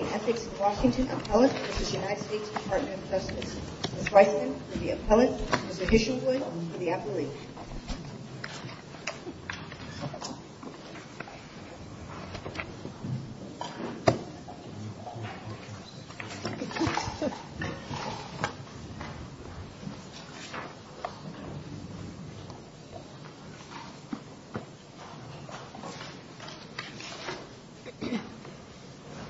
and Ethics in Washington, appellant to the United States Department of Justice. Ms. Weissman for the appellant, Mr. Dishonwood for the appellee. Mr. Dishonwood, for the appellant, Mr. Dishonwood, Mr. Dishonwood, Mr. Dishonwood, Mr. Dishonwood, Mr. Dishonwood, for the appellant, Mr.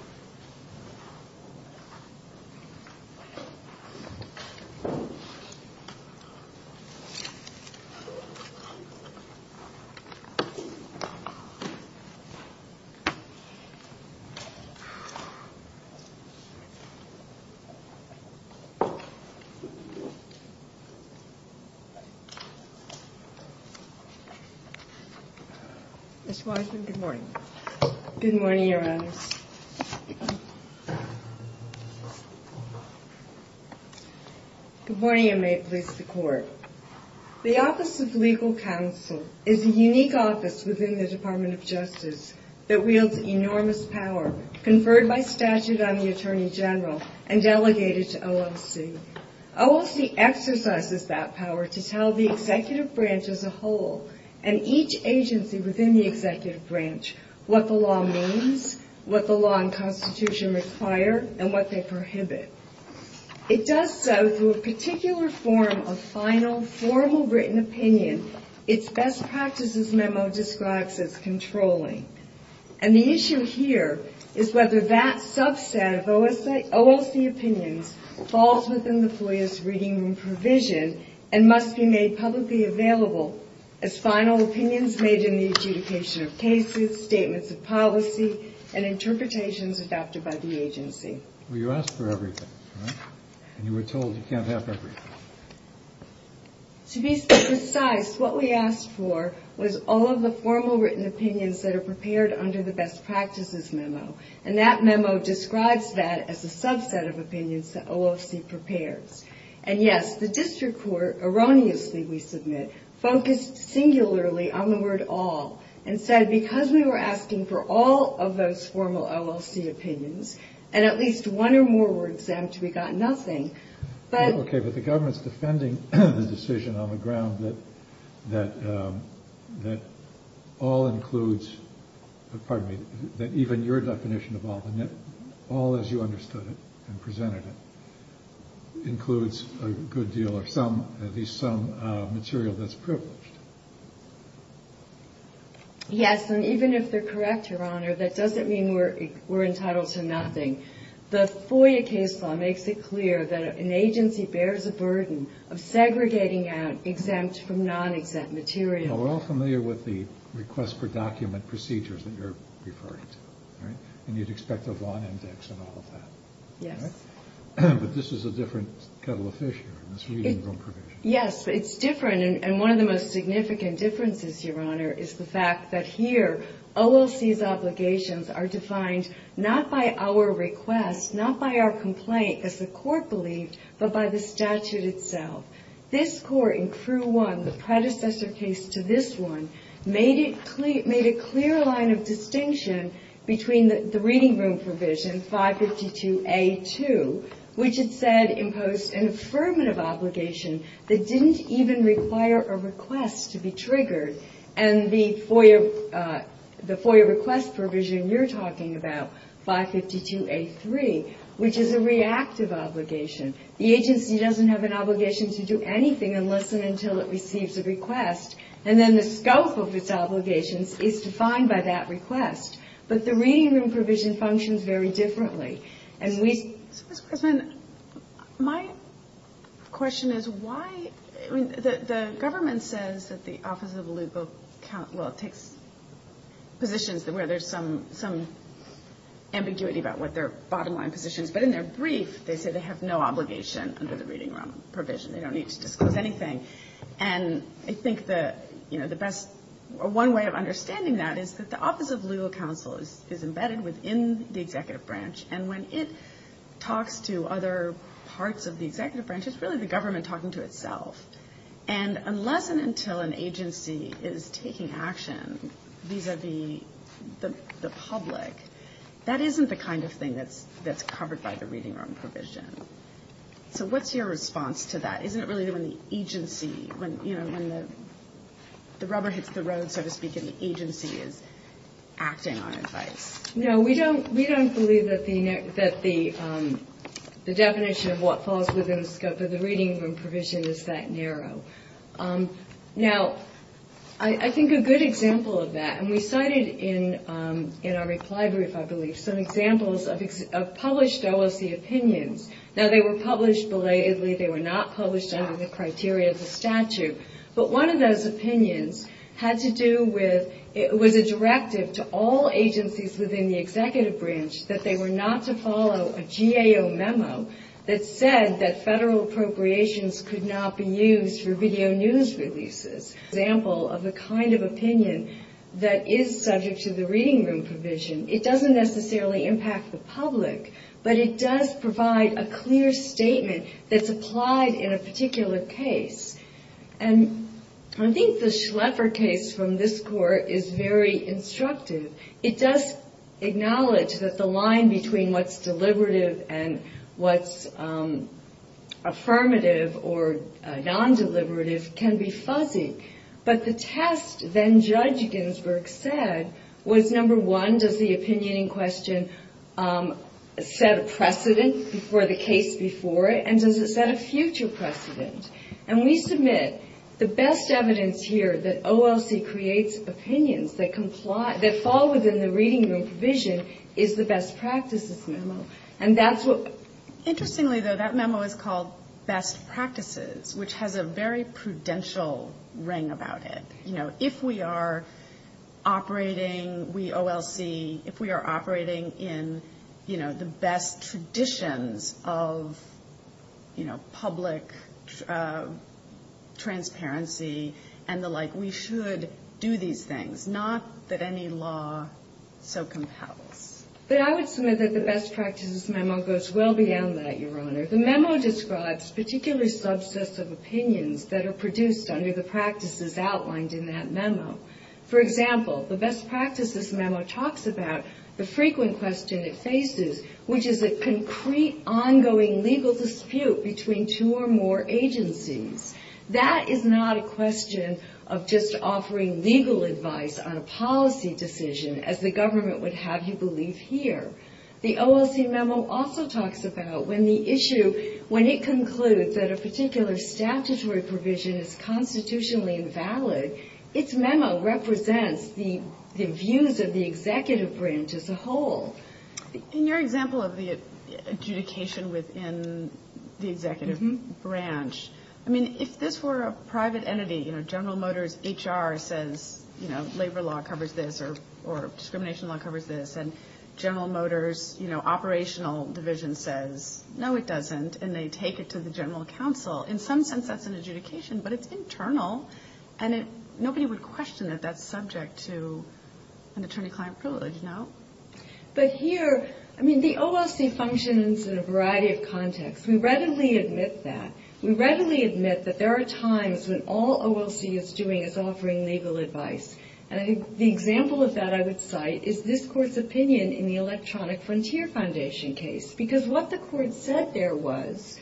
Dishonwood, Mr. Dishonwood, Mr. Dishonwood, Mr. Dishonwood, and must be made publicly available as final opinions made in the adjudication of cases, statements of policy, and interpretations adopted by the agency. Well, you asked for everything, right? And you were told you can't have everything. To be precise, what we asked for was all of the formal written opinions that are prepared under the best practices memo. And that memo describes that as a subset of opinions that erroneously, we submit, focused singularly on the word all, and said, because we were asking for all of those formal OLC opinions, and at least one or more were exempt, we got nothing. Okay, but the government's defending the decision on the ground that all includes – pardon me – that even your definition of all, all as you understood it and presented it, includes a good deal of some, at least some material that's privileged. Yes, and even if they're correct, Your Honor, that doesn't mean we're entitled to nothing. The FOIA case law makes it clear that an agency bears a burden of segregating out exempt from non-exempt material. Now, we're all familiar with the request for document procedures that you're referring to, right? And you'd expect a Vaughn index and all of that. Yes. But this is a different kettle of fish here, this reading room provision. Yes, it's different, and one of the most significant differences, Your Honor, is the fact that here, OLC's obligations are defined not by our request, not by our complaint, as the Court believed, but by the statute itself. This Court in Crew 1, the predecessor case to this one, made it clear – made a clear line of distinction between the reading room provision, 552A2, which it said imposed an affirmative obligation that didn't even require a request to be triggered, and the FOIA request provision you're talking about, 552A3, which is a reactive obligation. The agency doesn't have an obligation to do anything unless and until it receives a request, and then the scope of its obligations is defined by that request. But the reading room provision functions very differently. And we – So, Mr. Guzman, my question is why – I mean, the government says that the Office of Legal – well, it takes positions where there's some ambiguity about what their bottom line position is, but in their brief, they say they have no obligation under the reading room provision. They don't need to disclose anything. And I think the best – one way of understanding that is that the Office of Legal Counsel is embedded within the executive branch, and when it talks to other parts of the executive branch, it's really the government talking to itself. And unless and until an agency is taking action vis-à-vis the public, that isn't the kind of thing that's covered by the reading room provision. So what's your response to that? Isn't it really when the agency – when, you know, when the rubber hits the road, so to speak, and the agency is acting on advice? No, we don't believe that the definition of what falls within the scope of the reading room provision is that narrow. Now, I think a good example of that – and we cited in our reply brief, I believe, some examples of published OOC opinions. Now, they were incorporated as a statute, but one of those opinions had to do with – it was a directive to all agencies within the executive branch that they were not to follow a GAO memo that said that federal appropriations could not be used for video news releases. An example of the kind of opinion that is subject to the reading room provision, it doesn't necessarily impact the public, but it does provide a clear statement that's And I think the Schleffer case from this court is very instructive. It does acknowledge that the line between what's deliberative and what's affirmative or non-deliberative can be fuzzy. But the test then Judge Ginsburg said was, number one, does the opinion in question set a precedent for the case before it, and does it set a future precedent? And we submit the best evidence here that OLC creates opinions that comply – that fall within the reading room provision is the best practices memo. And that's what Interestingly, though, that memo is called best practices, which has a very prudential ring about it. You know, if we are operating, we OLC, if we are operating in, you know, the best traditions of, you know, public transparency and the like, we should do these things, not that any law so compels. But I would submit that the best practices memo goes well beyond that, Your Honor. The memo describes particular subsets of opinions that are produced under the practices outlined in that memo. For example, the best practices memo talks about the frequent question it faces, which is a concrete, ongoing legal dispute between two or more agencies. That is not a question of just offering legal advice on a policy decision, as the government would have you believe here. The OLC memo also talks about when the issue, when it concludes that a particular statutory provision is constitutionally invalid, its memo represents the views of the executive branch as a whole. In your example of the adjudication within the executive branch, I mean, if this were a private entity, you know, General Motors HR says, you know, labor law covers this, or discrimination law covers this, and General Motors, you know, operational division says, no, it doesn't, and they take it to the general counsel. In some sense, that's an adjudication, but it's internal, and nobody would question that that's subject to an attorney-client privilege, no? But here, I mean, the OLC functions in a variety of contexts. We readily admit that. We readily admit that there are times when all OLC is doing is offering legal advice, and the example of that I would cite is this Court's opinion in the Electronic Frontier Foundation case, because what the Court said there was,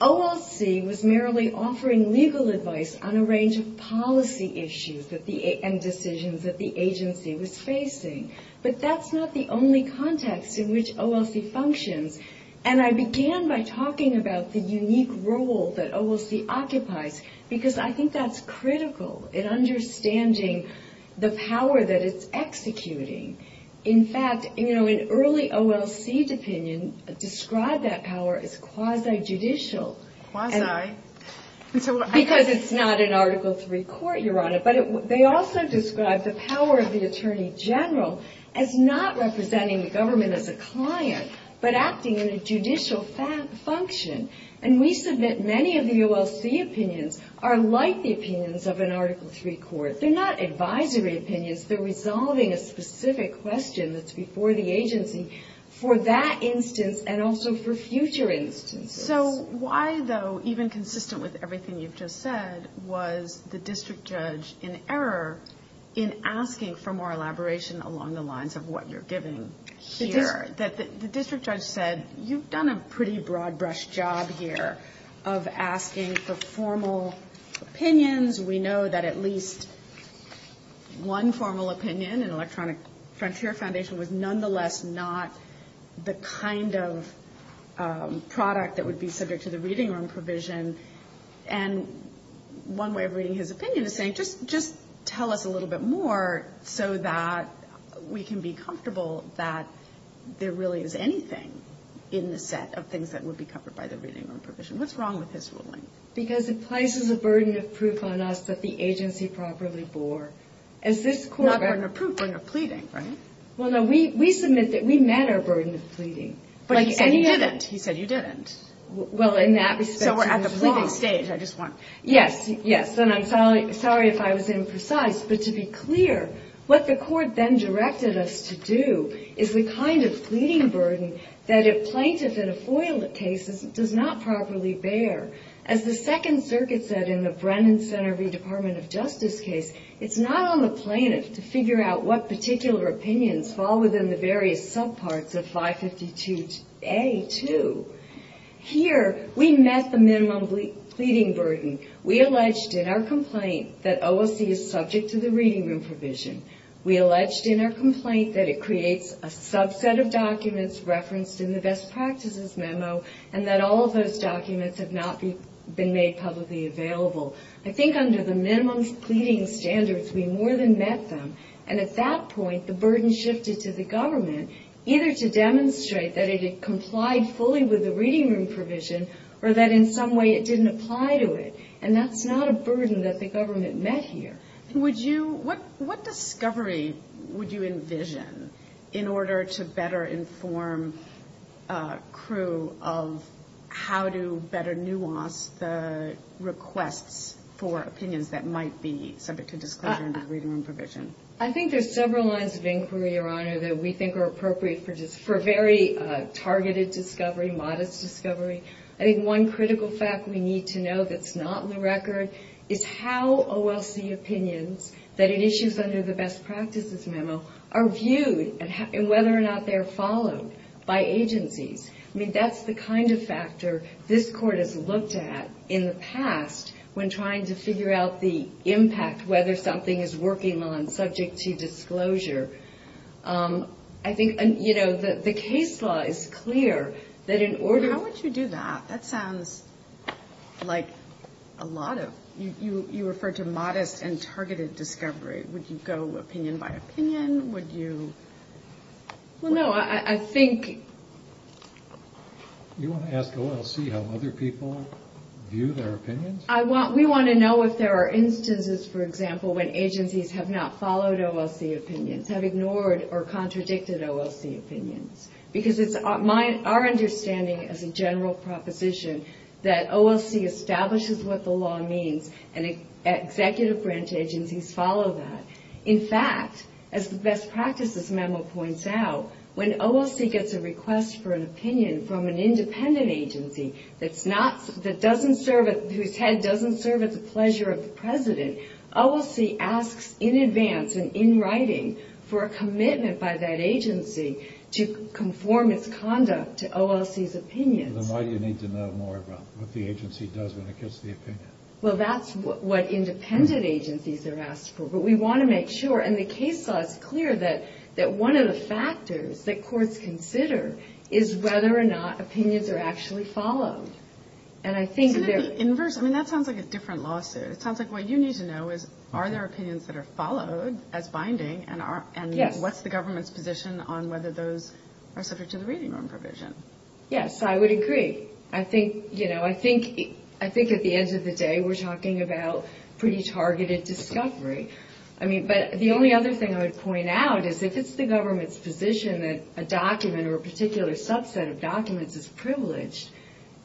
OLC was merely offering legal advice on a range of policy issues and decisions that the agency was facing. But that's not the only context in which OLC functions, and I began by talking about the unique role that OLC occupies, because I think that's critical in understanding the power that it's executing. In fact, you know, in early OLC opinion, described that power as quasi-judicial. Because it's not an Article III court, Your Honor, but they also described the power of the attorney general as not representing the government as a client, but acting in a judicial function, and we submit many of the OLC opinions are like the opinions of an Article III court. They're not advisory for that instance and also for future instances. So why, though, even consistent with everything you've just said, was the district judge in error in asking for more elaboration along the lines of what you're giving here? The district judge said, you've done a pretty broad-brush job here of asking for formal opinions. We know that at least one formal opinion in this case is the kind of product that would be subject to the reading room provision, and one way of reading his opinion is saying, just tell us a little bit more so that we can be comfortable that there really is anything in the set of things that would be covered by the reading room provision. What's wrong with his ruling? Because it places a burden of proof on us that the agency properly bore. Not burden of proof, burden of pleading, right? Well, no, we submit that we met our burden of pleading. But he said you didn't. He said you didn't. So we're at the pleading stage. Yes, yes, and I'm sorry if I was imprecise, but to be clear, what the court then directed us to do is the kind of thing that's not on the plaintiff to figure out what particular opinions fall within the various subparts of 552A2. Here, we met the minimum pleading burden. We alleged in our complaint that OSC is subject to the reading room provision. We alleged in our complaint that it creates a subset of documents referenced in the best practices memo, and that all of those documents have not been made publicly available. I think under the minimum pleading standards, we more than met them. And at that point, the burden shifted to the government, either to demonstrate that it had complied fully with the reading room provision, or that in some way it didn't apply to it. And that's not a burden that the government met here. What discovery would you envision in order to better inform crew of how to better nuance the requests for opinions that might be subject to disclosure under the reading room provision? I think there's several lines of inquiry, Your Honor, that we think are appropriate for very targeted discovery, modest discovery. I think one critical fact we need to know that's not in the record is how OLC opinions that it issues under the best practices memo are viewed, and whether or not they're followed by agencies. I mean, that's the kind of factor this court has in order to impact whether something is working on subject to disclosure. I think, you know, the case law is clear that in order... How would you do that? That sounds like a lot of, you referred to modest and targeted discovery. Would you go opinion by opinion? Would you... Well, no, I think... You want to ask OLC how other people view their opinions? We want to know if there are instances, for example, when agencies have not followed OLC opinions, have ignored or contradicted OLC opinions. Because it's our understanding as a general proposition that OLC establishes what the law means, and executive branch agencies follow that. In fact, as the best practices memo points out, when OLC gets a request for an opinion from an independent agency whose head doesn't serve at the pleasure of the president, OLC asks in advance and in writing for a commitment by that agency to conform its conduct to OLC's opinions. Then why do you need to know more about what the agency does when it gets the opinion? Well, that's what independent agencies are asked for. But we want to make sure, and the case law is clear, that one of the factors that determines whether opinions are actually followed. That sounds like a different lawsuit. It sounds like what you need to know is, are there opinions that are followed as binding, and what's the government's position on whether those are subject to the reading room provision? Yes, I would agree. I think at the end of the day, we're talking about pretty targeted discovery. But the only other thing I would point out is, if it's the government's position that a document or a particular subset of a document is privileged,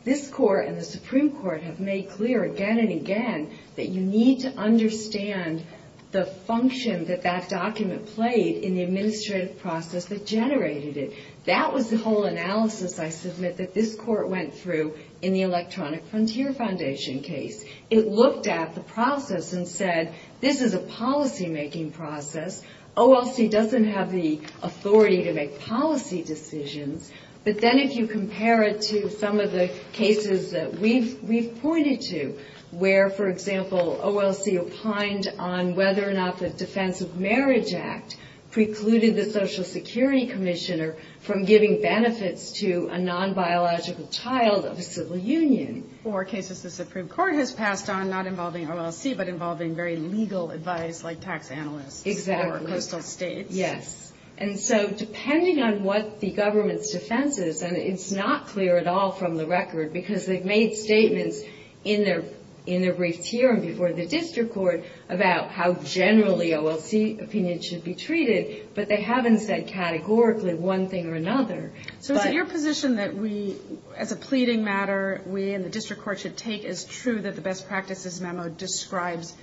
this Court and the Supreme Court have made clear again and again that you need to understand the function that that document played in the administrative process that generated it. That was the whole analysis, I submit, that this Court went through in the Electronic Frontier Foundation case. It looked at the process and said, this is a policymaking process. OLC doesn't have the authority to make policy decisions. But then if you compare it to some of the cases that we've pointed to, where, for example, OLC opined on whether or not the Defense of Marriage Act precluded the Social Security Commissioner from giving benefits to a non-biological child of a civil union. Or cases the Supreme Court has passed on not involving OLC, but involving very legal advice like tax analysts or coastal states. And so depending on what the government's defense is, and it's not clear at all from the record, because they've made statements in their briefs here and before the District Court about how generally OLC opinion should be treated. But they haven't said categorically one thing or another. So is it your position that we, as a pleading matter, we and the District Court should take as true that the best practices memo describes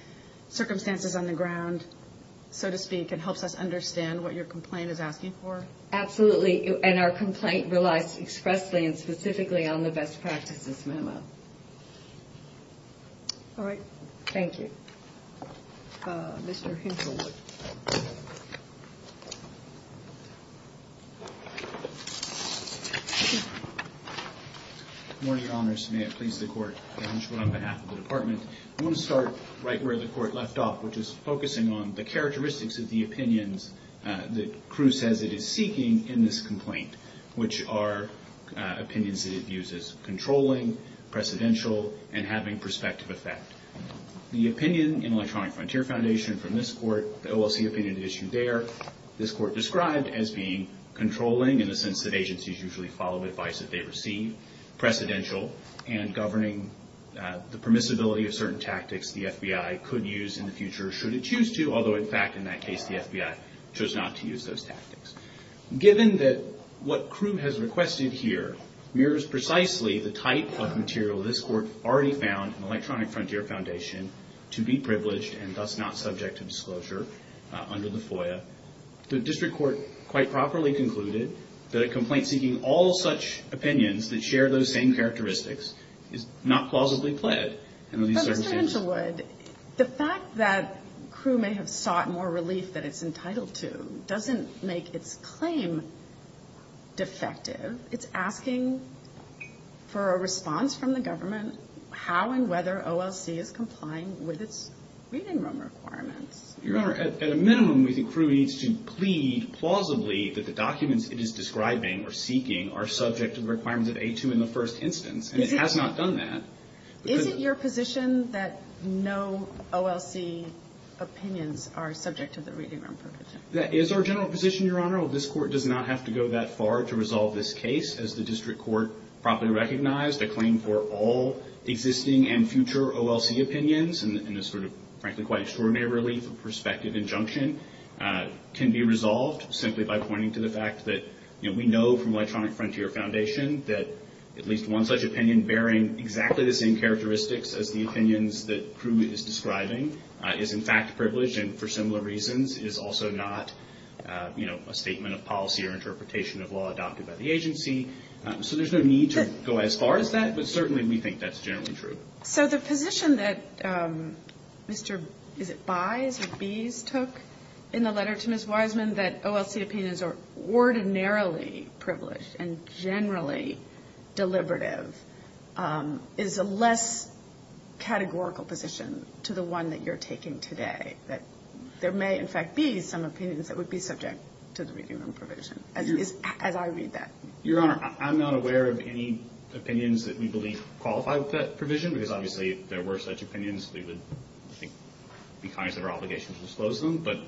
circumstances on the ground, so to speak, and helps us understand what your complaint is asking for? Absolutely. And our complaint relies expressly and specifically on the best practices memo. All right. Thank you. Mr. Hinklewood. Good morning, Your Honors. May it please the Court, I'm John Hinklewood on behalf of the Department. I want to start right where the Court left off, which is focusing on the characteristics of the opinions that Cruz says it is seeking in this complaint, which are opinions that it views as controlling, precedential, and having prospective effect. The opinion in Electronic Frontier Foundation from this Court, the OLC opinion issued there, this Court described as being controlling in the sense that agencies usually follow advice that they receive, precedential, and governing the permissibility of certain tactics the FBI could use in the future, or should it choose to, although in fact, in that case, the FBI chose not to use those tactics. Given that what Cruz has requested here mirrors precisely the type of material this Court already found in Electronic Frontier Foundation, to be privileged and thus not subject to disclosure under the FOIA, the District Court quite properly concluded that a complaint seeking all such opinions that share those same characteristics is not plausibly pled under these circumstances. But, Mr. Hinklewood, the fact that Cruz may have sought more relief than it's entitled to doesn't make its claim defective. It's asking for a response from the government how and whether OLC is complying with its reading room requirements. Your Honor, at a minimum, we think Cruz needs to plead plausibly that the documents it is describing or seeking are subject to the requirements of A2 in the first instance, and it has not done that. Is it your position that no OLC opinions are subject to the reading room protocol? That is our general position, Your Honor. Well, this Court does not have to go that far to resolve this case. As the District Court properly recognized, a claim for all existing and future OLC opinions, and a sort of, frankly, quite extraordinary relief of perspective injunction, can be resolved simply by pointing to the fact that, you know, we know from Electronic Frontier Foundation that at least one such opinion bearing exactly the same characteristics as the opinions that Cruz is describing is, in fact, privileged and, for similar reasons, is also not, you know, a statement of policy or interpretation of law adopted by the agency. So there's no need to go as far as that, but certainly we think that's generally true. So the position that Mr. Bies or Bies took in the letter to Ms. Wiseman, that OLC opinions are ordinarily privileged and generally deliberative, is a less categorical position to the one that you're taking today, that there may, in fact, be some opinions that would be subject to the reading room provision, as I read that. Your Honor, I'm not aware of any opinions that we believe qualify with that provision, because obviously if there were such opinions, we would, I think, be cognizant of our obligation to disclose them. But,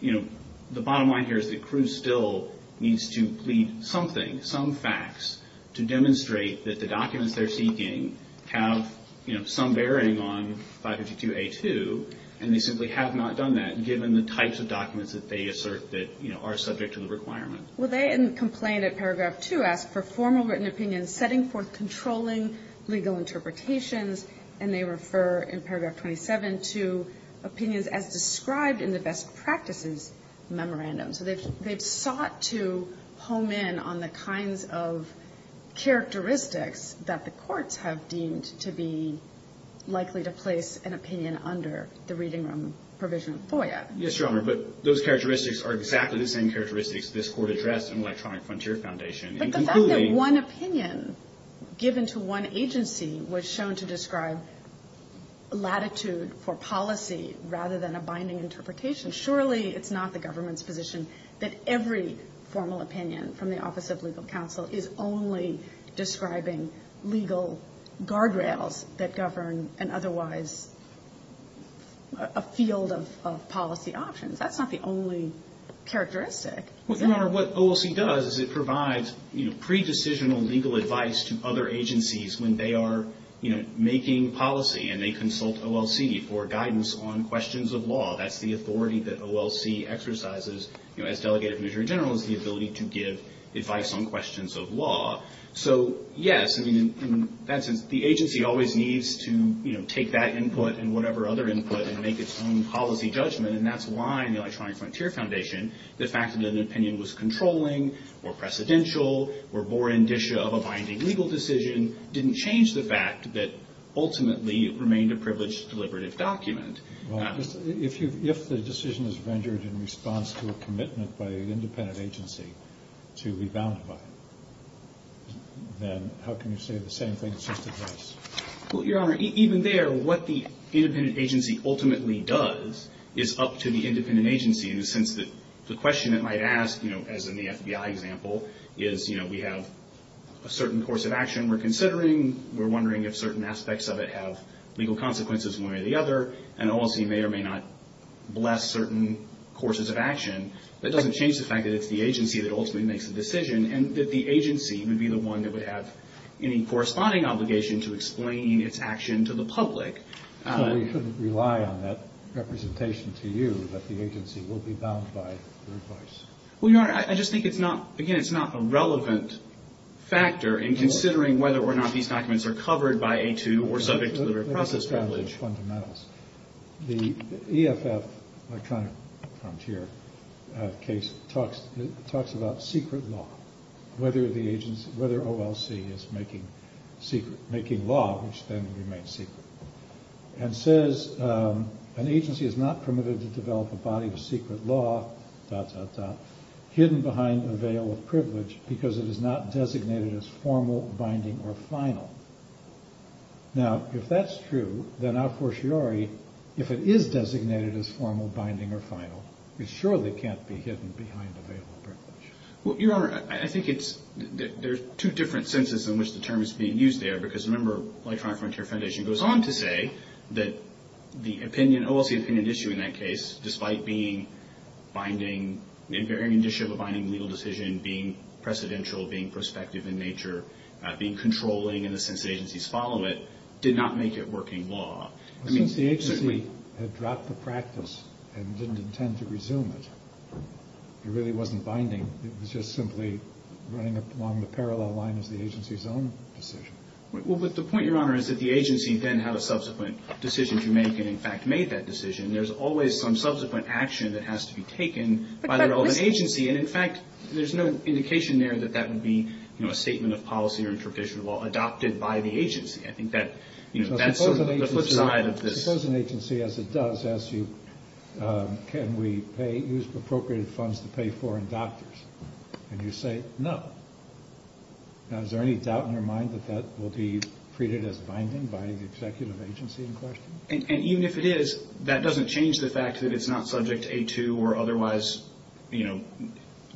you know, the bottom line here is that Cruz still needs to plead something, some facts, to demonstrate that the documents they're seeking have, you know, some bearing on 552A2, and they simply have not done that, given the types of documents that they assert that, you know, are subject to the requirement. Well, they in the complaint at paragraph 2 ask for formal written opinions setting forth controlling legal interpretations, and they refer in paragraph 27 to opinions as described in the best practices memorandum. So they've sought to home in on the kinds of characteristics that the courts have deemed to be likely to place an opinion under the reading room provision FOIA. Yes, Your Honor, but those characteristics are exactly the same characteristics this Court addressed in Electronic Frontier Foundation. But the fact that one opinion given to one agency was shown to describe latitude for policy rather than a binding interpretation, surely it's not the government's position that every formal opinion from the Office of Legal Counsel is only describing legal guardrails that govern an otherwise a field of policy options. That's not the only characteristic. Well, Your Honor, what OLC does is it provides, you know, pre-decisional legal advice to other agencies when they are, you know, making policy and they consult OLC for guidance on questions of law. That's the authority that OLC exercises, you know, as Delegated Administrator General, is the ability to give advice on questions of law. So, yes, I mean, in that sense, the agency always needs to, you know, take that input and whatever other input and make its own policy judgment, and that's why in the Electronic Frontier Foundation the fact that an opinion was controlling or precedential or bore indicia of a binding legal decision didn't change the fact that ultimately it remained a privileged deliberative document. Well, if the decision is vendored in response to a commitment by an independent agency to be bound by it, then how can you say the same thing since it does? Well, Your Honor, even there, what the independent agency ultimately does is up to the independent agency in the sense that the question it might ask, you know, as in the FBI example, is, you know, we have a certain course of action we're considering. We're wondering if certain aspects of it have legal consequences one way or the other, and OLC may or may not bless certain courses of action. That doesn't change the fact that it's the agency that ultimately makes the decision and that the agency would be the one that would have any corresponding obligation to explain its action to the public. So we couldn't rely on that representation to you that the agency will be bound by your advice? Well, Your Honor, I just think it's not, again, it's not a relevant factor in considering whether or not these documents are covered by A2 or subject to the process privilege. The EFF, Electronic Frontier case, talks about secret law, whether the agency, whether OLC is making secret, making law which then remains secret. And says an agency is not permitted to develop a body of secret law, dot, dot, dot, hidden behind a veil of privilege because it is not designated as formal, binding, or final. Now, if that's true, then a fortiori, if it is designated as formal, binding, or final, it surely can't be hidden behind a veil of privilege. Well, Your Honor, I think it's, there's two different senses in which the term is being used there, because remember, Electronic Frontier Foundation goes on to say that the opinion, the OLC opinion issue in that case, despite being binding, in varying indicia of a binding legal decision, being precedential, being prospective in nature, being controlling in the sense that agencies follow it, did not make it working law. Since the agency had dropped the practice and didn't intend to resume it, it really wasn't binding, it was just simply running along the parallel line of the agency's own decision. Well, but the point, Your Honor, is that the agency then had a subsequent decision to make, and in fact made that decision. There's always some subsequent action that has to be taken by the relevant agency, and in fact, there's no indication there that that would be, you know, a statement of policy or intraprofessional law adopted by the agency. I think that, you know, that's sort of the flip side of this. Suppose an agency, as it does, asks you, can we pay, use appropriated funds to pay foreign doctors? And you say, no. Now, is there any doubt in your mind that that will be treated as binding by the executive agency in question? And even if it is, that doesn't change the fact that it's not subject to A2 or otherwise, you know,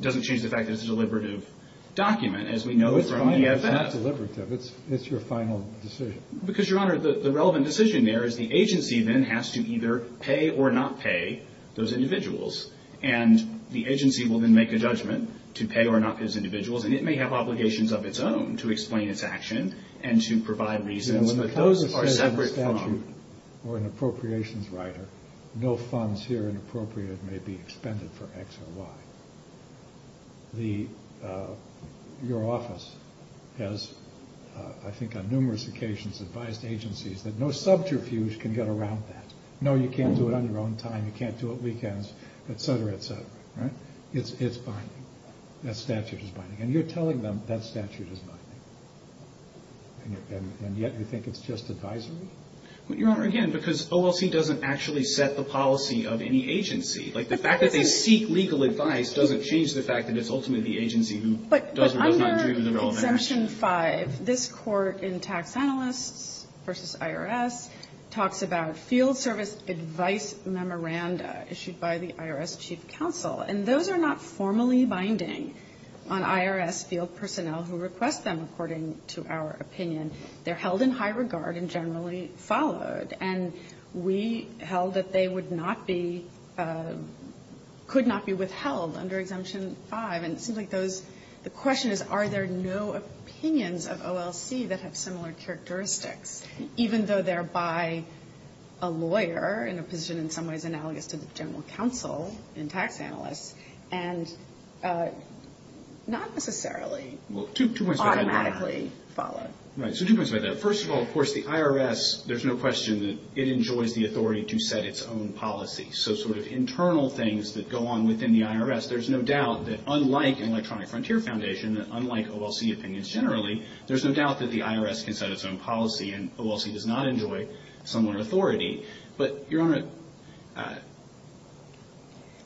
doesn't change the fact that it's a deliberative document, as we know from EFF. No, it's not deliberative. It's your final decision. Because, Your Honor, the relevant decision there is the agency then has to either pay or not pay those individuals, and the agency will then make a judgment to pay or not pay those individuals, and it may have obligations of its own to explain its action and to provide reasons, but those are separate from the statute or an appropriations writer. No funds here inappropriate may be expended for X or Y. Your office has, I think, on numerous occasions advised agencies that no subterfuge can get around that. No, you can't do it on your own time. You can't do it weekends, et cetera, et cetera, right? It's binding. That statute is binding. And you're telling them that statute is binding. And yet you think it's just advisory? Well, Your Honor, again, because OLC doesn't actually set the policy of any agency. Like, the fact that they seek legal advice doesn't change the fact that it's ultimately the agency who does or does not do the relevant action. But under Exemption 5, this Court in Tax Analysts v. IRS talks about field service advice memoranda issued by the IRS chief counsel. And those are not formally binding on IRS field personnel who request them, according to our opinion. They're held in high regard and generally followed. And we held that they would not be – could not be withheld under Exemption 5. And it seems like those – the question is, are there no opinions of OLC that have similar characteristics, even though they're by a lawyer in a position in some ways analogous to the general counsel in Tax Analysts and not necessarily automatically followed? Well, two points about that. Right. So two points about that. First of all, of course, the IRS, there's no question that it enjoys the authority to set its own policy. So sort of internal things that go on within the IRS, there's no doubt that, unlike Electronic Frontier Foundation, that unlike OLC opinions generally, there's no doubt that the IRS can set its own policy. And OLC does not enjoy similar authority. But, Your Honor –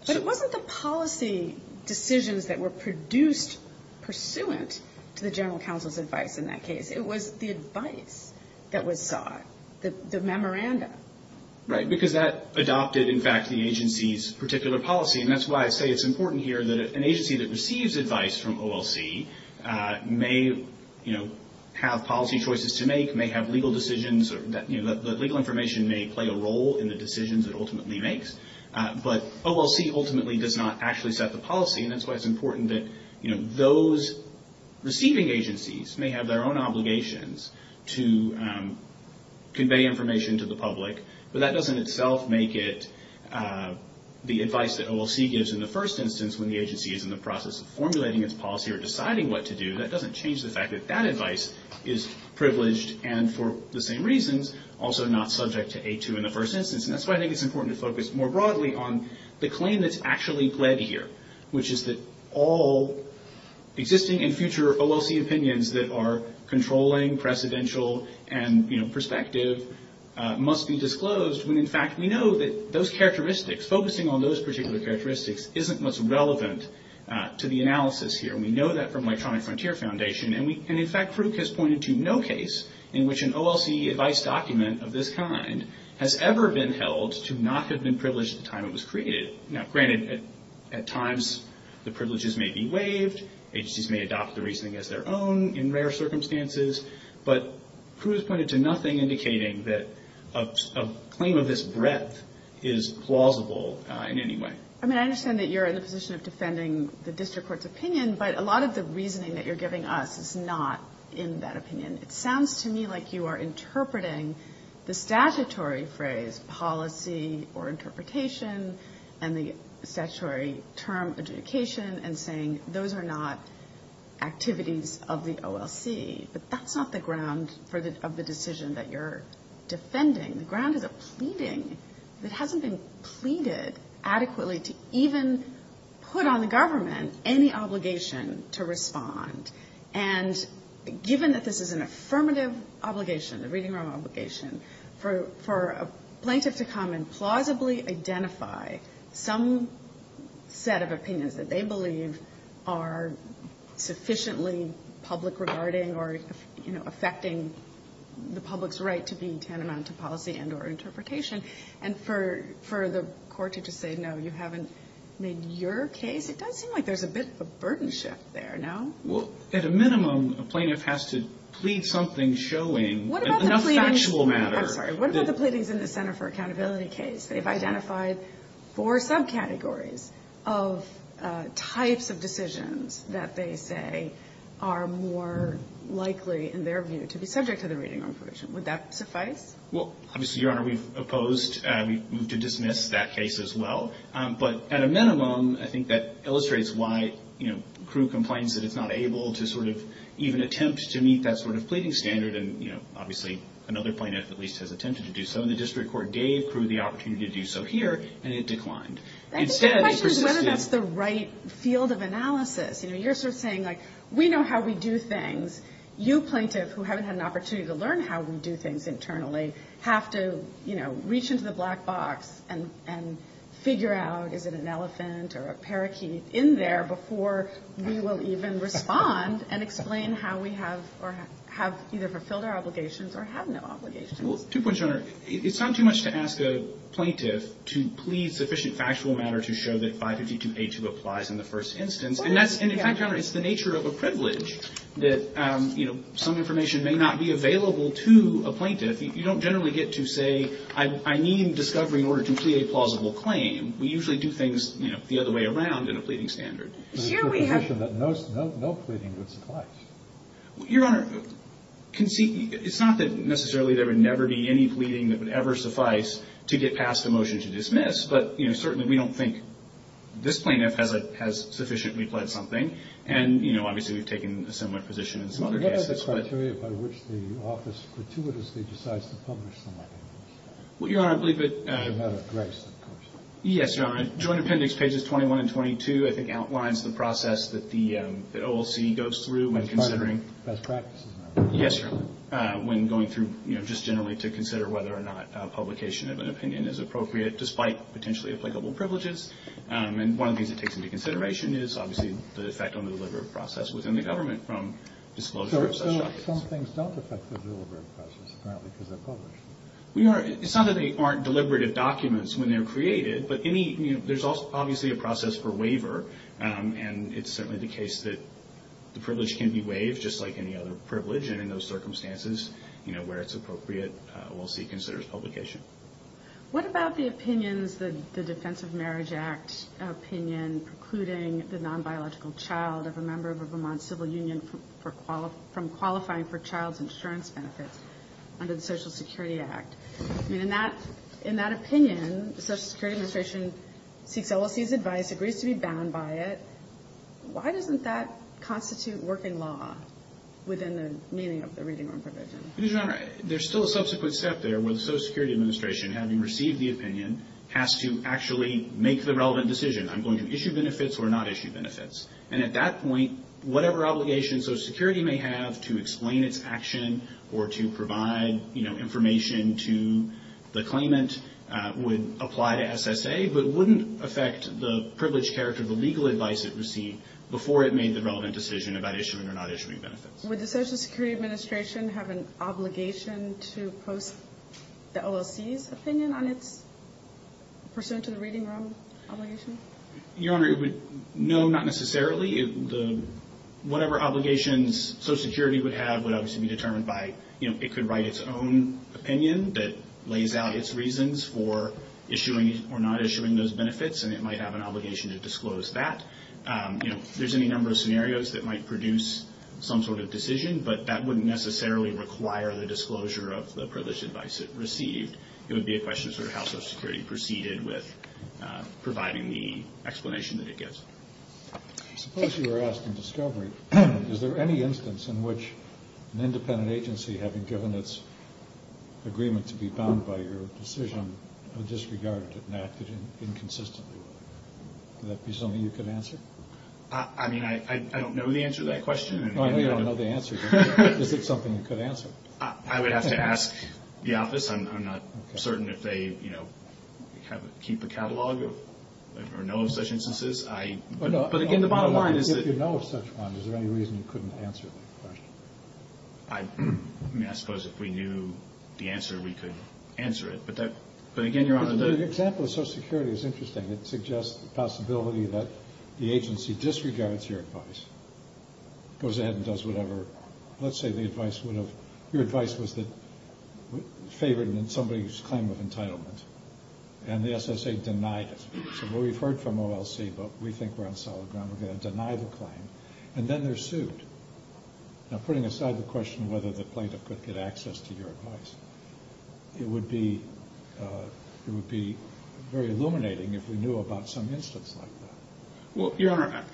But it wasn't the policy decisions that were produced pursuant to the general counsel's advice in that case. It was the advice that was sought, the memoranda. Right. Because that adopted, in fact, the agency's particular policy. And that's why I say it's important here that an agency that receives advice from OLC may, you know, have policy choices to make, may have legal decisions that – you know, that legal information may play a role in the decisions it ultimately makes. But OLC ultimately does not actually set the policy. And that's why it's important that, you know, those receiving agencies may have their own obligations to convey information to the public. But that doesn't itself make it the advice that OLC gives in the first instance when the agency is in the process of formulating its policy or deciding what to do. That doesn't change the fact that that advice is privileged and, for the same reasons, also not subject to A2 in the first instance. And that's why I think it's important to focus more broadly on the claim that's that all existing and future OLC opinions that are controlling, precedential, and, you know, prospective must be disclosed when, in fact, we know that those characteristics – focusing on those particular characteristics isn't what's relevant to the analysis here. And we know that from Electronic Frontier Foundation. And, in fact, Frouk has pointed to no case in which an OLC advice document of this kind has ever been held to not have been privileged at the time it was created. Now, granted, at times the privileges may be waived. Agencies may adopt the reasoning as their own in rare circumstances. But Frouk has pointed to nothing indicating that a claim of this breadth is plausible in any way. I mean, I understand that you're in the position of defending the district court's opinion, but a lot of the reasoning that you're giving us is not in that opinion. It sounds to me like you are interpreting the statutory phrase, policy or and the statutory term, adjudication, and saying those are not activities of the OLC. But that's not the ground of the decision that you're defending. The ground is a pleading that hasn't been pleaded adequately to even put on the government any obligation to respond. And given that this is an affirmative obligation, a reading room obligation, for a set of opinions that they believe are sufficiently public regarding or, you know, affecting the public's right to be tantamount to policy and or interpretation, and for the court to just say, no, you haven't made your case, it does seem like there's a bit of a burden shift there, no? Well, at a minimum, a plaintiff has to plead something showing enough factual matter. I'm sorry. What about the pleadings in the Center for Accountability case? They've identified four subcategories of types of decisions that they say are more likely, in their view, to be subject to the reading room provision. Would that suffice? Well, obviously, Your Honor, we've opposed and we've moved to dismiss that case as well. But at a minimum, I think that illustrates why, you know, Crewe complains that it's not able to sort of even attempt to meet that sort of pleading standard. And, you know, obviously another plaintiff at least has attempted to do so. And the District Court gave Crewe the opportunity to do so here, and it declined. Instead, it persisted. I think the question is whether that's the right field of analysis. You know, you're sort of saying, like, we know how we do things. You, plaintiff, who haven't had an opportunity to learn how we do things internally, have to, you know, reach into the black box and figure out, is it an elephant or a parakeet in there before we will even respond and explain how we have or have either fulfilled our obligations or have no obligations. Well, two points, Your Honor. It's not too much to ask a plaintiff to plead sufficient factual matter to show that 552A2 applies in the first instance. And that's, in fact, Your Honor, it's the nature of a privilege that, you know, some information may not be available to a plaintiff. You don't generally get to say, I need discovery in order to plead a plausible claim. We usually do things, you know, the other way around in a pleading standard. Sure, we have. No pleading would suffice. Your Honor, it's not that necessarily there would never be any pleading that would ever suffice to get past a motion to dismiss. But, you know, certainly we don't think this plaintiff has sufficiently pledged something. And, you know, obviously, we've taken a similar position in some other cases. And what are the criteria by which the office gratuitously decides to publish them, I think? Well, Your Honor, I believe it. It's a matter of grace, of course. Yes, Your Honor. Joint Appendix pages 21 and 22, I think, outlines the process that the OLC goes through when considering. Best practices. Yes, Your Honor. When going through, you know, just generally to consider whether or not publication of an opinion is appropriate despite potentially applicable privileges. And one of the things that takes into consideration is obviously the effect on the deliberative process within the government from disclosure of such documents. So some things don't affect the deliberative process, apparently, because they're published. We are. It's not that they aren't deliberative documents when they're created. But any, you know, there's obviously a process for waiver. And it's certainly the case that the privilege can be waived just like any other privilege. And in those circumstances, you know, where it's appropriate, OLC considers publication. What about the opinions, the Defense of Marriage Act opinion precluding the non-biological child of a member of a Vermont civil union from qualifying for child's insurance benefits under the Social Security Act? I mean, in that opinion, the Social Security Administration seeks OLC's advice, agrees to be bound by it. Why doesn't that constitute working law within the meaning of the reading room provision? Because, Your Honor, there's still a subsequent step there where the Social Security Administration, having received the opinion, has to actually make the relevant decision. I'm going to issue benefits or not issue benefits. And at that point, whatever obligation Social Security may have to explain its action or to provide, you know, information to the claimant would apply to SSA, but wouldn't affect the privileged character of the legal advice it received before it made the relevant decision about issuing or not issuing benefits. Would the Social Security Administration have an obligation to post the OLC's opinion on its pursuant to the reading room obligation? Your Honor, no, not necessarily. Whatever obligations Social Security would have would obviously be determined by, you know, it could write its own opinion that lays out its reasons for not issuing those benefits, and it might have an obligation to disclose that. You know, there's any number of scenarios that might produce some sort of decision, but that wouldn't necessarily require the disclosure of the privileged advice it received. It would be a question of sort of how Social Security proceeded with providing the explanation that it gives. I suppose you were asking discovery. Is there any instance in which an independent agency, having given its agreement to be bound by your decision, would disregard it and act inconsistently with it? Would that be something you could answer? I mean, I don't know the answer to that question. Oh, you don't know the answer. Is it something you could answer? I would have to ask the office. I'm not certain if they, you know, keep a catalog or know of such instances. But, again, the bottom line is that... If you know of such one, is there any reason you couldn't answer that question? I mean, I suppose if we knew the answer, we could answer it. But, again, Your Honor, the... The example of Social Security is interesting. It suggests the possibility that the agency disregards your advice, goes ahead and does whatever. Let's say the advice would have... Your advice was favored in somebody's claim of entitlement, and the SSA denied it. So we've heard from OLC, but we think we're on solid ground. We're going to deny the claim. And then they're sued. Now, putting aside the question of whether the plaintiff could get access to your advice, it would be very illuminating if we knew about some instance like that. Well, Your Honor,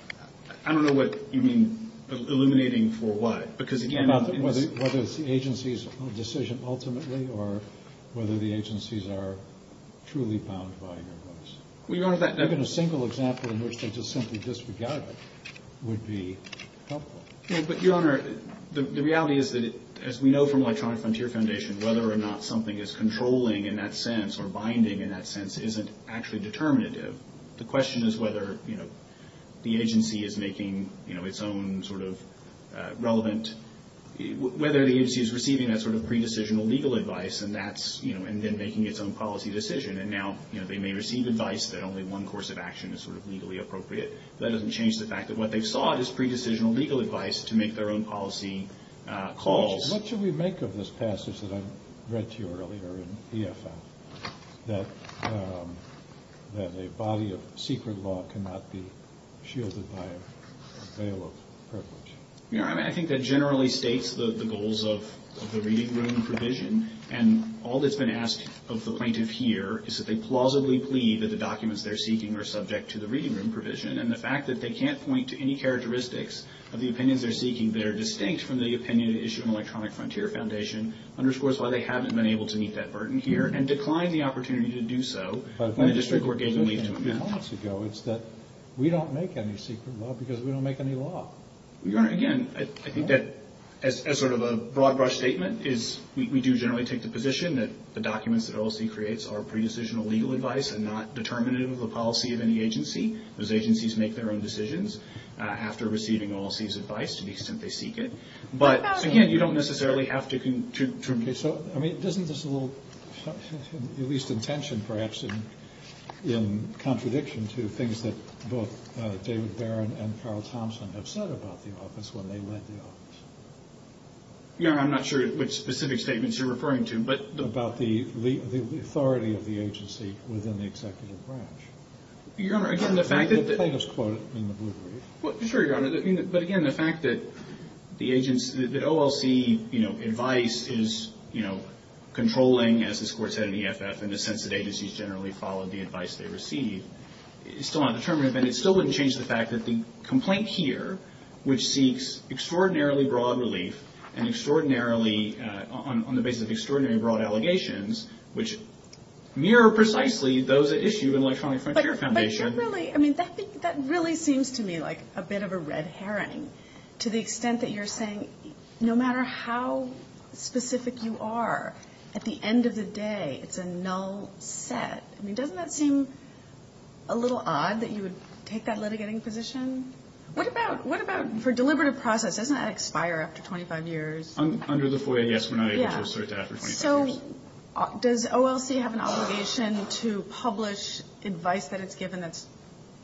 I don't know what you mean, illuminating for what? Because, again... Whether it's the agency's decision ultimately or whether the agencies are truly bound by your advice. Well, Your Honor, that... Given a single example in which they just simply disregarded it would be helpful. Well, but, Your Honor, the reality is that, as we know from Electronic Frontier Foundation, whether or not something is controlling in that sense or binding in that sense isn't actually determinative. The question is whether, you know, the agency is making, you know, its own sort of relevant... Whether the agency is receiving that sort of pre-decisional legal advice and that's, you know, and then making its own policy decision. And now, you know, they may receive advice that only one course of action is sort of legally appropriate, but that doesn't change the fact that what they've sought is pre-decisional legal advice to make their own policy calls. What should we make of this passage that I read to you earlier in EFM, that a body of secret law cannot be shielded by a veil of privilege? Your Honor, I think that generally states the goals of the reading room provision. And all that's been asked of the plaintiff here is that they plausibly plead that the documents they're seeking are subject to the reading room provision. And the fact that they can't point to any characteristics of the opinions they're seeking that are distinct from the opinion issued in Electronic Frontier Foundation underscores why they haven't been able to meet that burden here and decline the opportunity to do so when the district court gave the leave to amend. But if I'm just going to make a few comments to go, it's that we don't make any secret law because we don't make any law. Your Honor, again, I think that as sort of a broad-brush statement is we do generally take the position that the documents that OLC creates are pre-decisional legal advice and not determinative of the policy of any agency. Those agencies make their own decisions after receiving OLC's advice to the extent they seek it. But, again, you don't necessarily have to contribute. So, I mean, doesn't this a little, at least in tension perhaps, in contradiction to things that both David Barron and Carl Thompson have said about the office when they led the office? Your Honor, I'm not sure which specific statements you're referring to, but the... About the authority of the agency within the executive branch. Your Honor, again, the fact that... Let's quote it in the blue brief. Sure, Your Honor. But, again, the fact that the agency, that OLC, you know, advice is, you know, controlling, as this Court said in the EFF, in the sense that agencies generally follow the advice they receive, is still undeterminative. And it still wouldn't change the fact that the complaint here, which seeks extraordinarily broad relief and extraordinarily, on the basis of extraordinarily broad allegations, which mirror precisely those at issue in Electronic Frontier Foundation. But, really, I mean, that really seems to me like a bit of a red herring, to the extent that you're saying no matter how specific you are, at the end of the day it's a null set. I mean, doesn't that seem a little odd that you would take that litigating position? What about for deliberative process? Doesn't that expire after 25 years? Under the FOIA, yes, we're not able to assert that after 25 years. So does OLC have an obligation to publish advice that it's given that's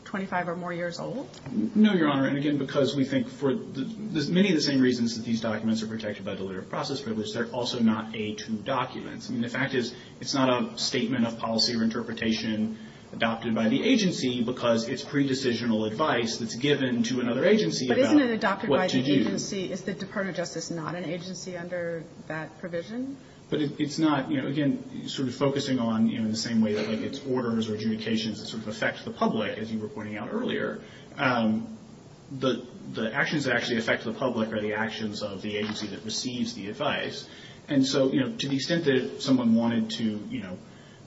25 or more years old? No, Your Honor. And, again, because we think for many of the same reasons that these documents are protected by deliberative process privilege, they're also not a true document. I mean, the fact is it's not a statement of policy or interpretation adopted by the agency because it's pre-decisional advice that's given to another agency about what to do. But isn't it adopted by the agency? Is the Department of Justice not an agency under that provision? But it's not. You know, again, sort of focusing on, you know, the same way that it's orders or adjudications that sort of affect the public, as you were pointing out earlier, the actions that actually affect the public are the actions of the agency that receives the advice. And so, you know, to the extent that someone wanted to, you know,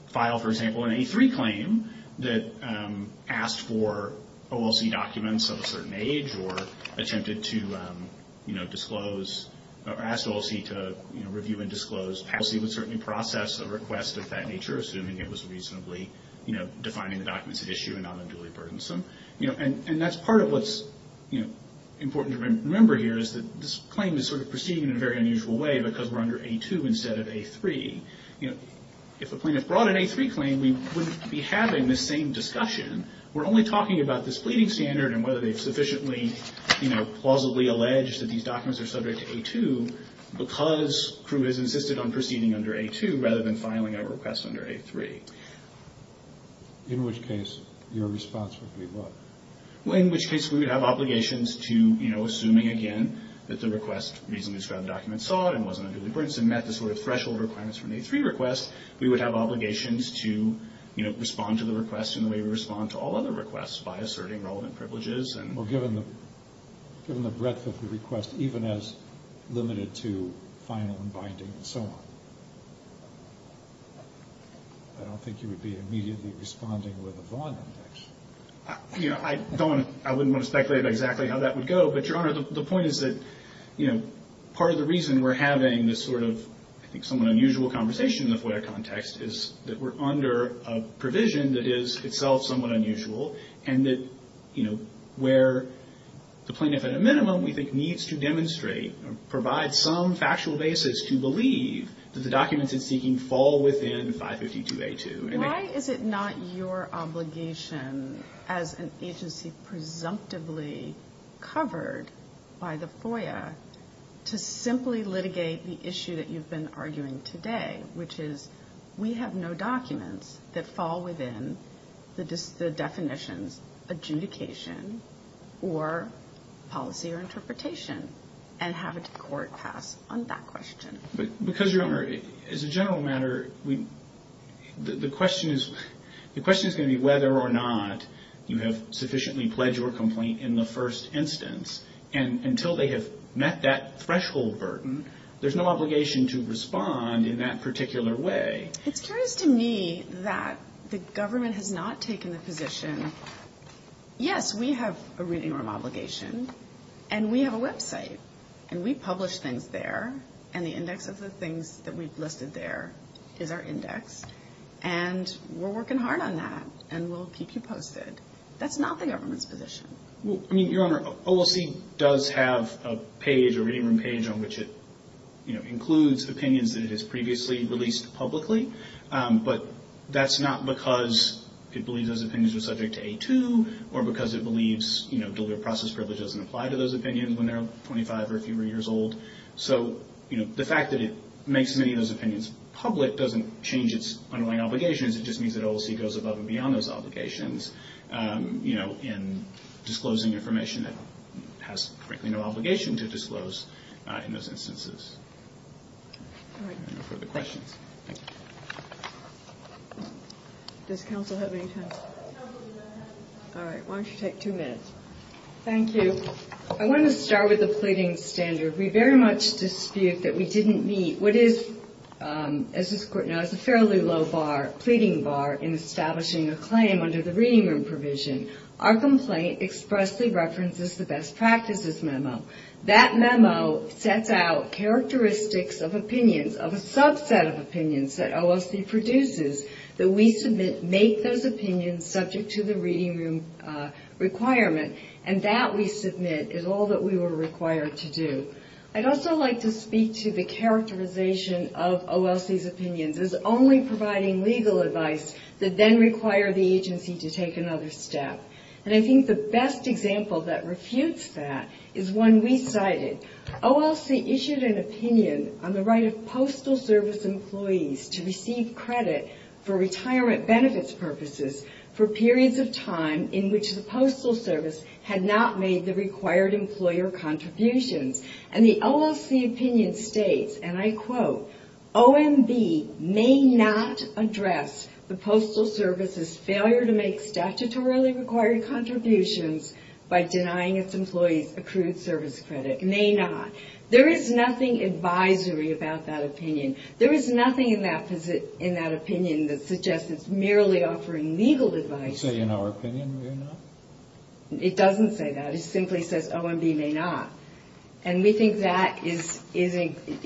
file, for example, an A3 claim that asked for OLC documents of a certain age or attempted to, you know, disclose or asked OLC to, you know, review and disclose, OLC would certainly process a request of that nature, assuming it was reasonably, you know, defining the documents at issue and not unduly burdensome. You know, and that's part of what's, you know, important to remember here is that this claim is sort of proceeding in a very unusual way because we're under A2 instead of A3. You know, if a plaintiff brought an A3 claim, we wouldn't be having this same discussion. We're only talking about this pleading standard and whether they've sufficiently, you know, plausibly alleged that these documents are subject to A2 because crew has insisted on proceeding under A2 rather than filing a request under A3. In which case, your response would be what? Well, in which case, we would have obligations to, you know, assuming, again, that the request reasonably described the documents sought and wasn't unduly burdensome, met the sort of threshold requirements for an A3 request, we would have obligations to, you know, respond to the request in the way we respond to all other requests by asserting relevant privileges and... Well, given the breadth of the request, even as limited to final and binding and so on, I don't think you would be immediately responding with a Vaughn index. You know, I don't want to, I wouldn't want to speculate exactly how that would go, but, Your Honor, the point is that, you know, part of the reason we're having this sort of, I think, somewhat unusual conversation in the FOIA context is that we're under a provision that is itself somewhat unusual and that, you know, where the plaintiff at a minimum, we think, needs to demonstrate or provide some factual basis to believe that the documents it's seeking fall within 552A2. Why is it not your obligation as an agency presumptively covered by the FOIA to simply litigate the issue that you've been arguing today, which is we have no documents that fall within the definitions, adjudication, or policy or interpretation, and have a court pass on that question? Because, Your Honor, as a general matter, the question is going to be whether or not you have sufficiently pledged your complaint in the first instance, and until they have met that threshold burden, there's no obligation to respond in that particular way. It's curious to me that the government has not taken the position, yes, we have a written obligation, and we have a website, and we publish things there, and the index of the things that we've listed there is our index, and we're working hard on that, and we'll keep you posted. That's not the government's position. Well, I mean, Your Honor, OLC does have a page, a reading room page, on which it, you know, includes opinions that it has previously released publicly, but that's not because it believes those opinions are subject to A2 or because it believes, you know, dual due process privilege doesn't apply to those opinions when they're 25 or fewer years old. So, you know, the fact that it makes many of those opinions public doesn't change its underlying obligations. It just means that OLC goes above and beyond those obligations, you know, in disclosing information that has, frankly, no obligation to disclose in those instances. Any further questions? Does counsel have any time? All right. Why don't you take two minutes? Thank you. I want to start with the pleading standard. We very much dispute that we didn't meet what is, as this Court knows, a fairly low bar, pleading bar, in establishing a claim under the reading room provision. Our complaint expressly references the best practices memo. That memo sets out characteristics of opinions, of a subset of opinions, that OLC produces, that we submit, make those opinions subject to the reading room requirement, and that we submit is all that we were required to do. I'd also like to speak to the characterization of OLC's opinions as only providing legal advice that then require the agency to take another step. And I think the best example that refutes that is one we cited. OLC issued an opinion on the right of postal service employees to receive credit for retirement benefits purposes for periods of time in which the postal service had not made the required employer contributions. And the OLC opinion states, and I quote, OMB may not address the postal service's failure to make statutorily required contributions by denying its employees accrued service credit. May not. There is nothing advisory about that opinion. There is nothing in that opinion that suggests it's merely offering legal advice. It doesn't say that. It simply says OMB may not. And we think that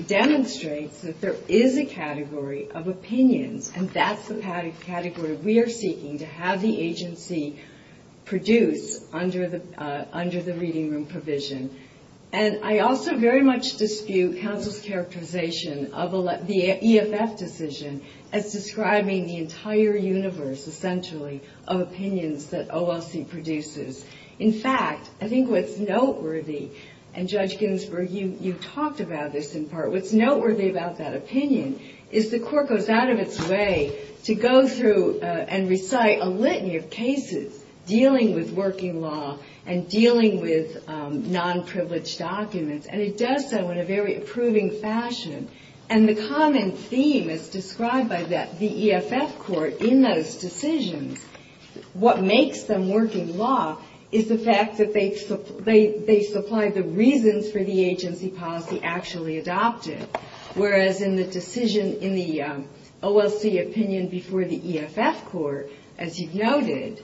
demonstrates that there is a category of opinions, and that's the category we are seeking to have the agency produce under the reading room provision. And I also very much dispute counsel's characterization of the EFF decision as describing the entire universe, essentially, of opinions that OLC produces. In fact, I think what's noteworthy, and Judge Ginsburg, you talked about this in part, what's noteworthy about that opinion is the court goes out of its way to go through and recite a litany of cases dealing with working law and dealing with non-privileged documents, and it does so in a very approving fashion. And the common theme as described by the EFF court in those decisions, what makes them working law is the fact that they supply the reasons for the agency policy actually adopted, whereas in the decision in the OLC opinion before the EFF court, as you've noted,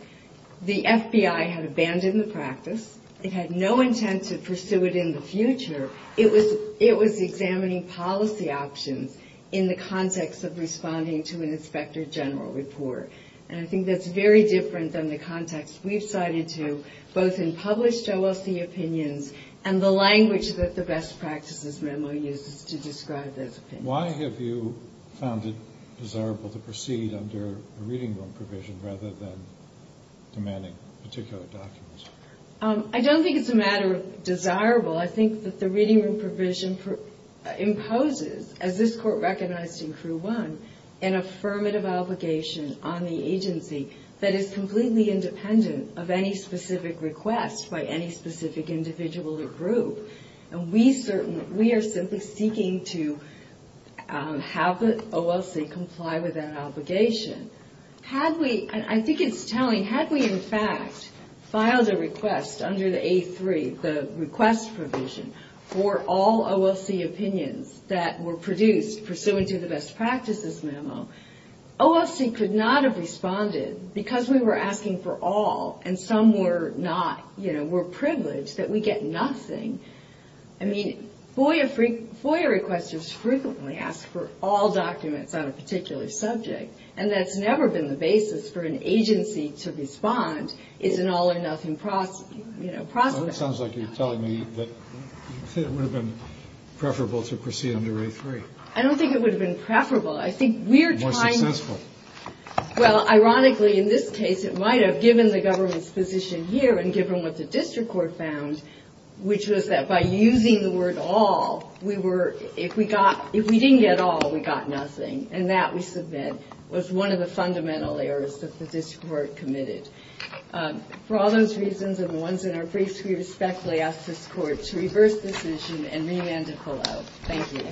the FBI had abandoned the practice. It had no intent to pursue it in the future. It was examining policy options in the context of responding to an inspector general report. And I think that's very different than the context we've cited to both in published OLC opinions and the language that the best practices memo uses to describe those opinions. Why have you found it desirable to proceed under a reading room provision rather than demanding particular documents? I don't think it's a matter of desirable. I think that the reading room provision imposes, as this Court recognized in Crew 1, an affirmative obligation on the agency that is completely independent of any specific request by any specific individual or group. And we are simply seeking to have the OLC comply with that obligation. Had we, and I think it's telling, had we in fact filed a request under the A3, the request provision, for all OLC opinions that were produced pursuant to the best practices memo, OLC could not have responded because we were asking for all, and some were not, you know, were privileged that we get nothing. I mean, FOIA requesters frequently ask for all documents on a particular subject, and that's never been the basis for an agency to respond as an all-or-nothing prospect. It sounds like you're telling me that it would have been preferable to proceed under A3. I don't think it would have been preferable. I think we're trying to – More successful. Well, ironically, in this case, it might have, given the government's position here and given what the district court found, which was that by using the word all, we were, if we didn't get all, we got nothing. And that, we submit, was one of the fundamental errors that the district court committed. For all those reasons and the ones in our briefs, we respectfully ask this Court to reverse decision and remand to pull out. Thank you.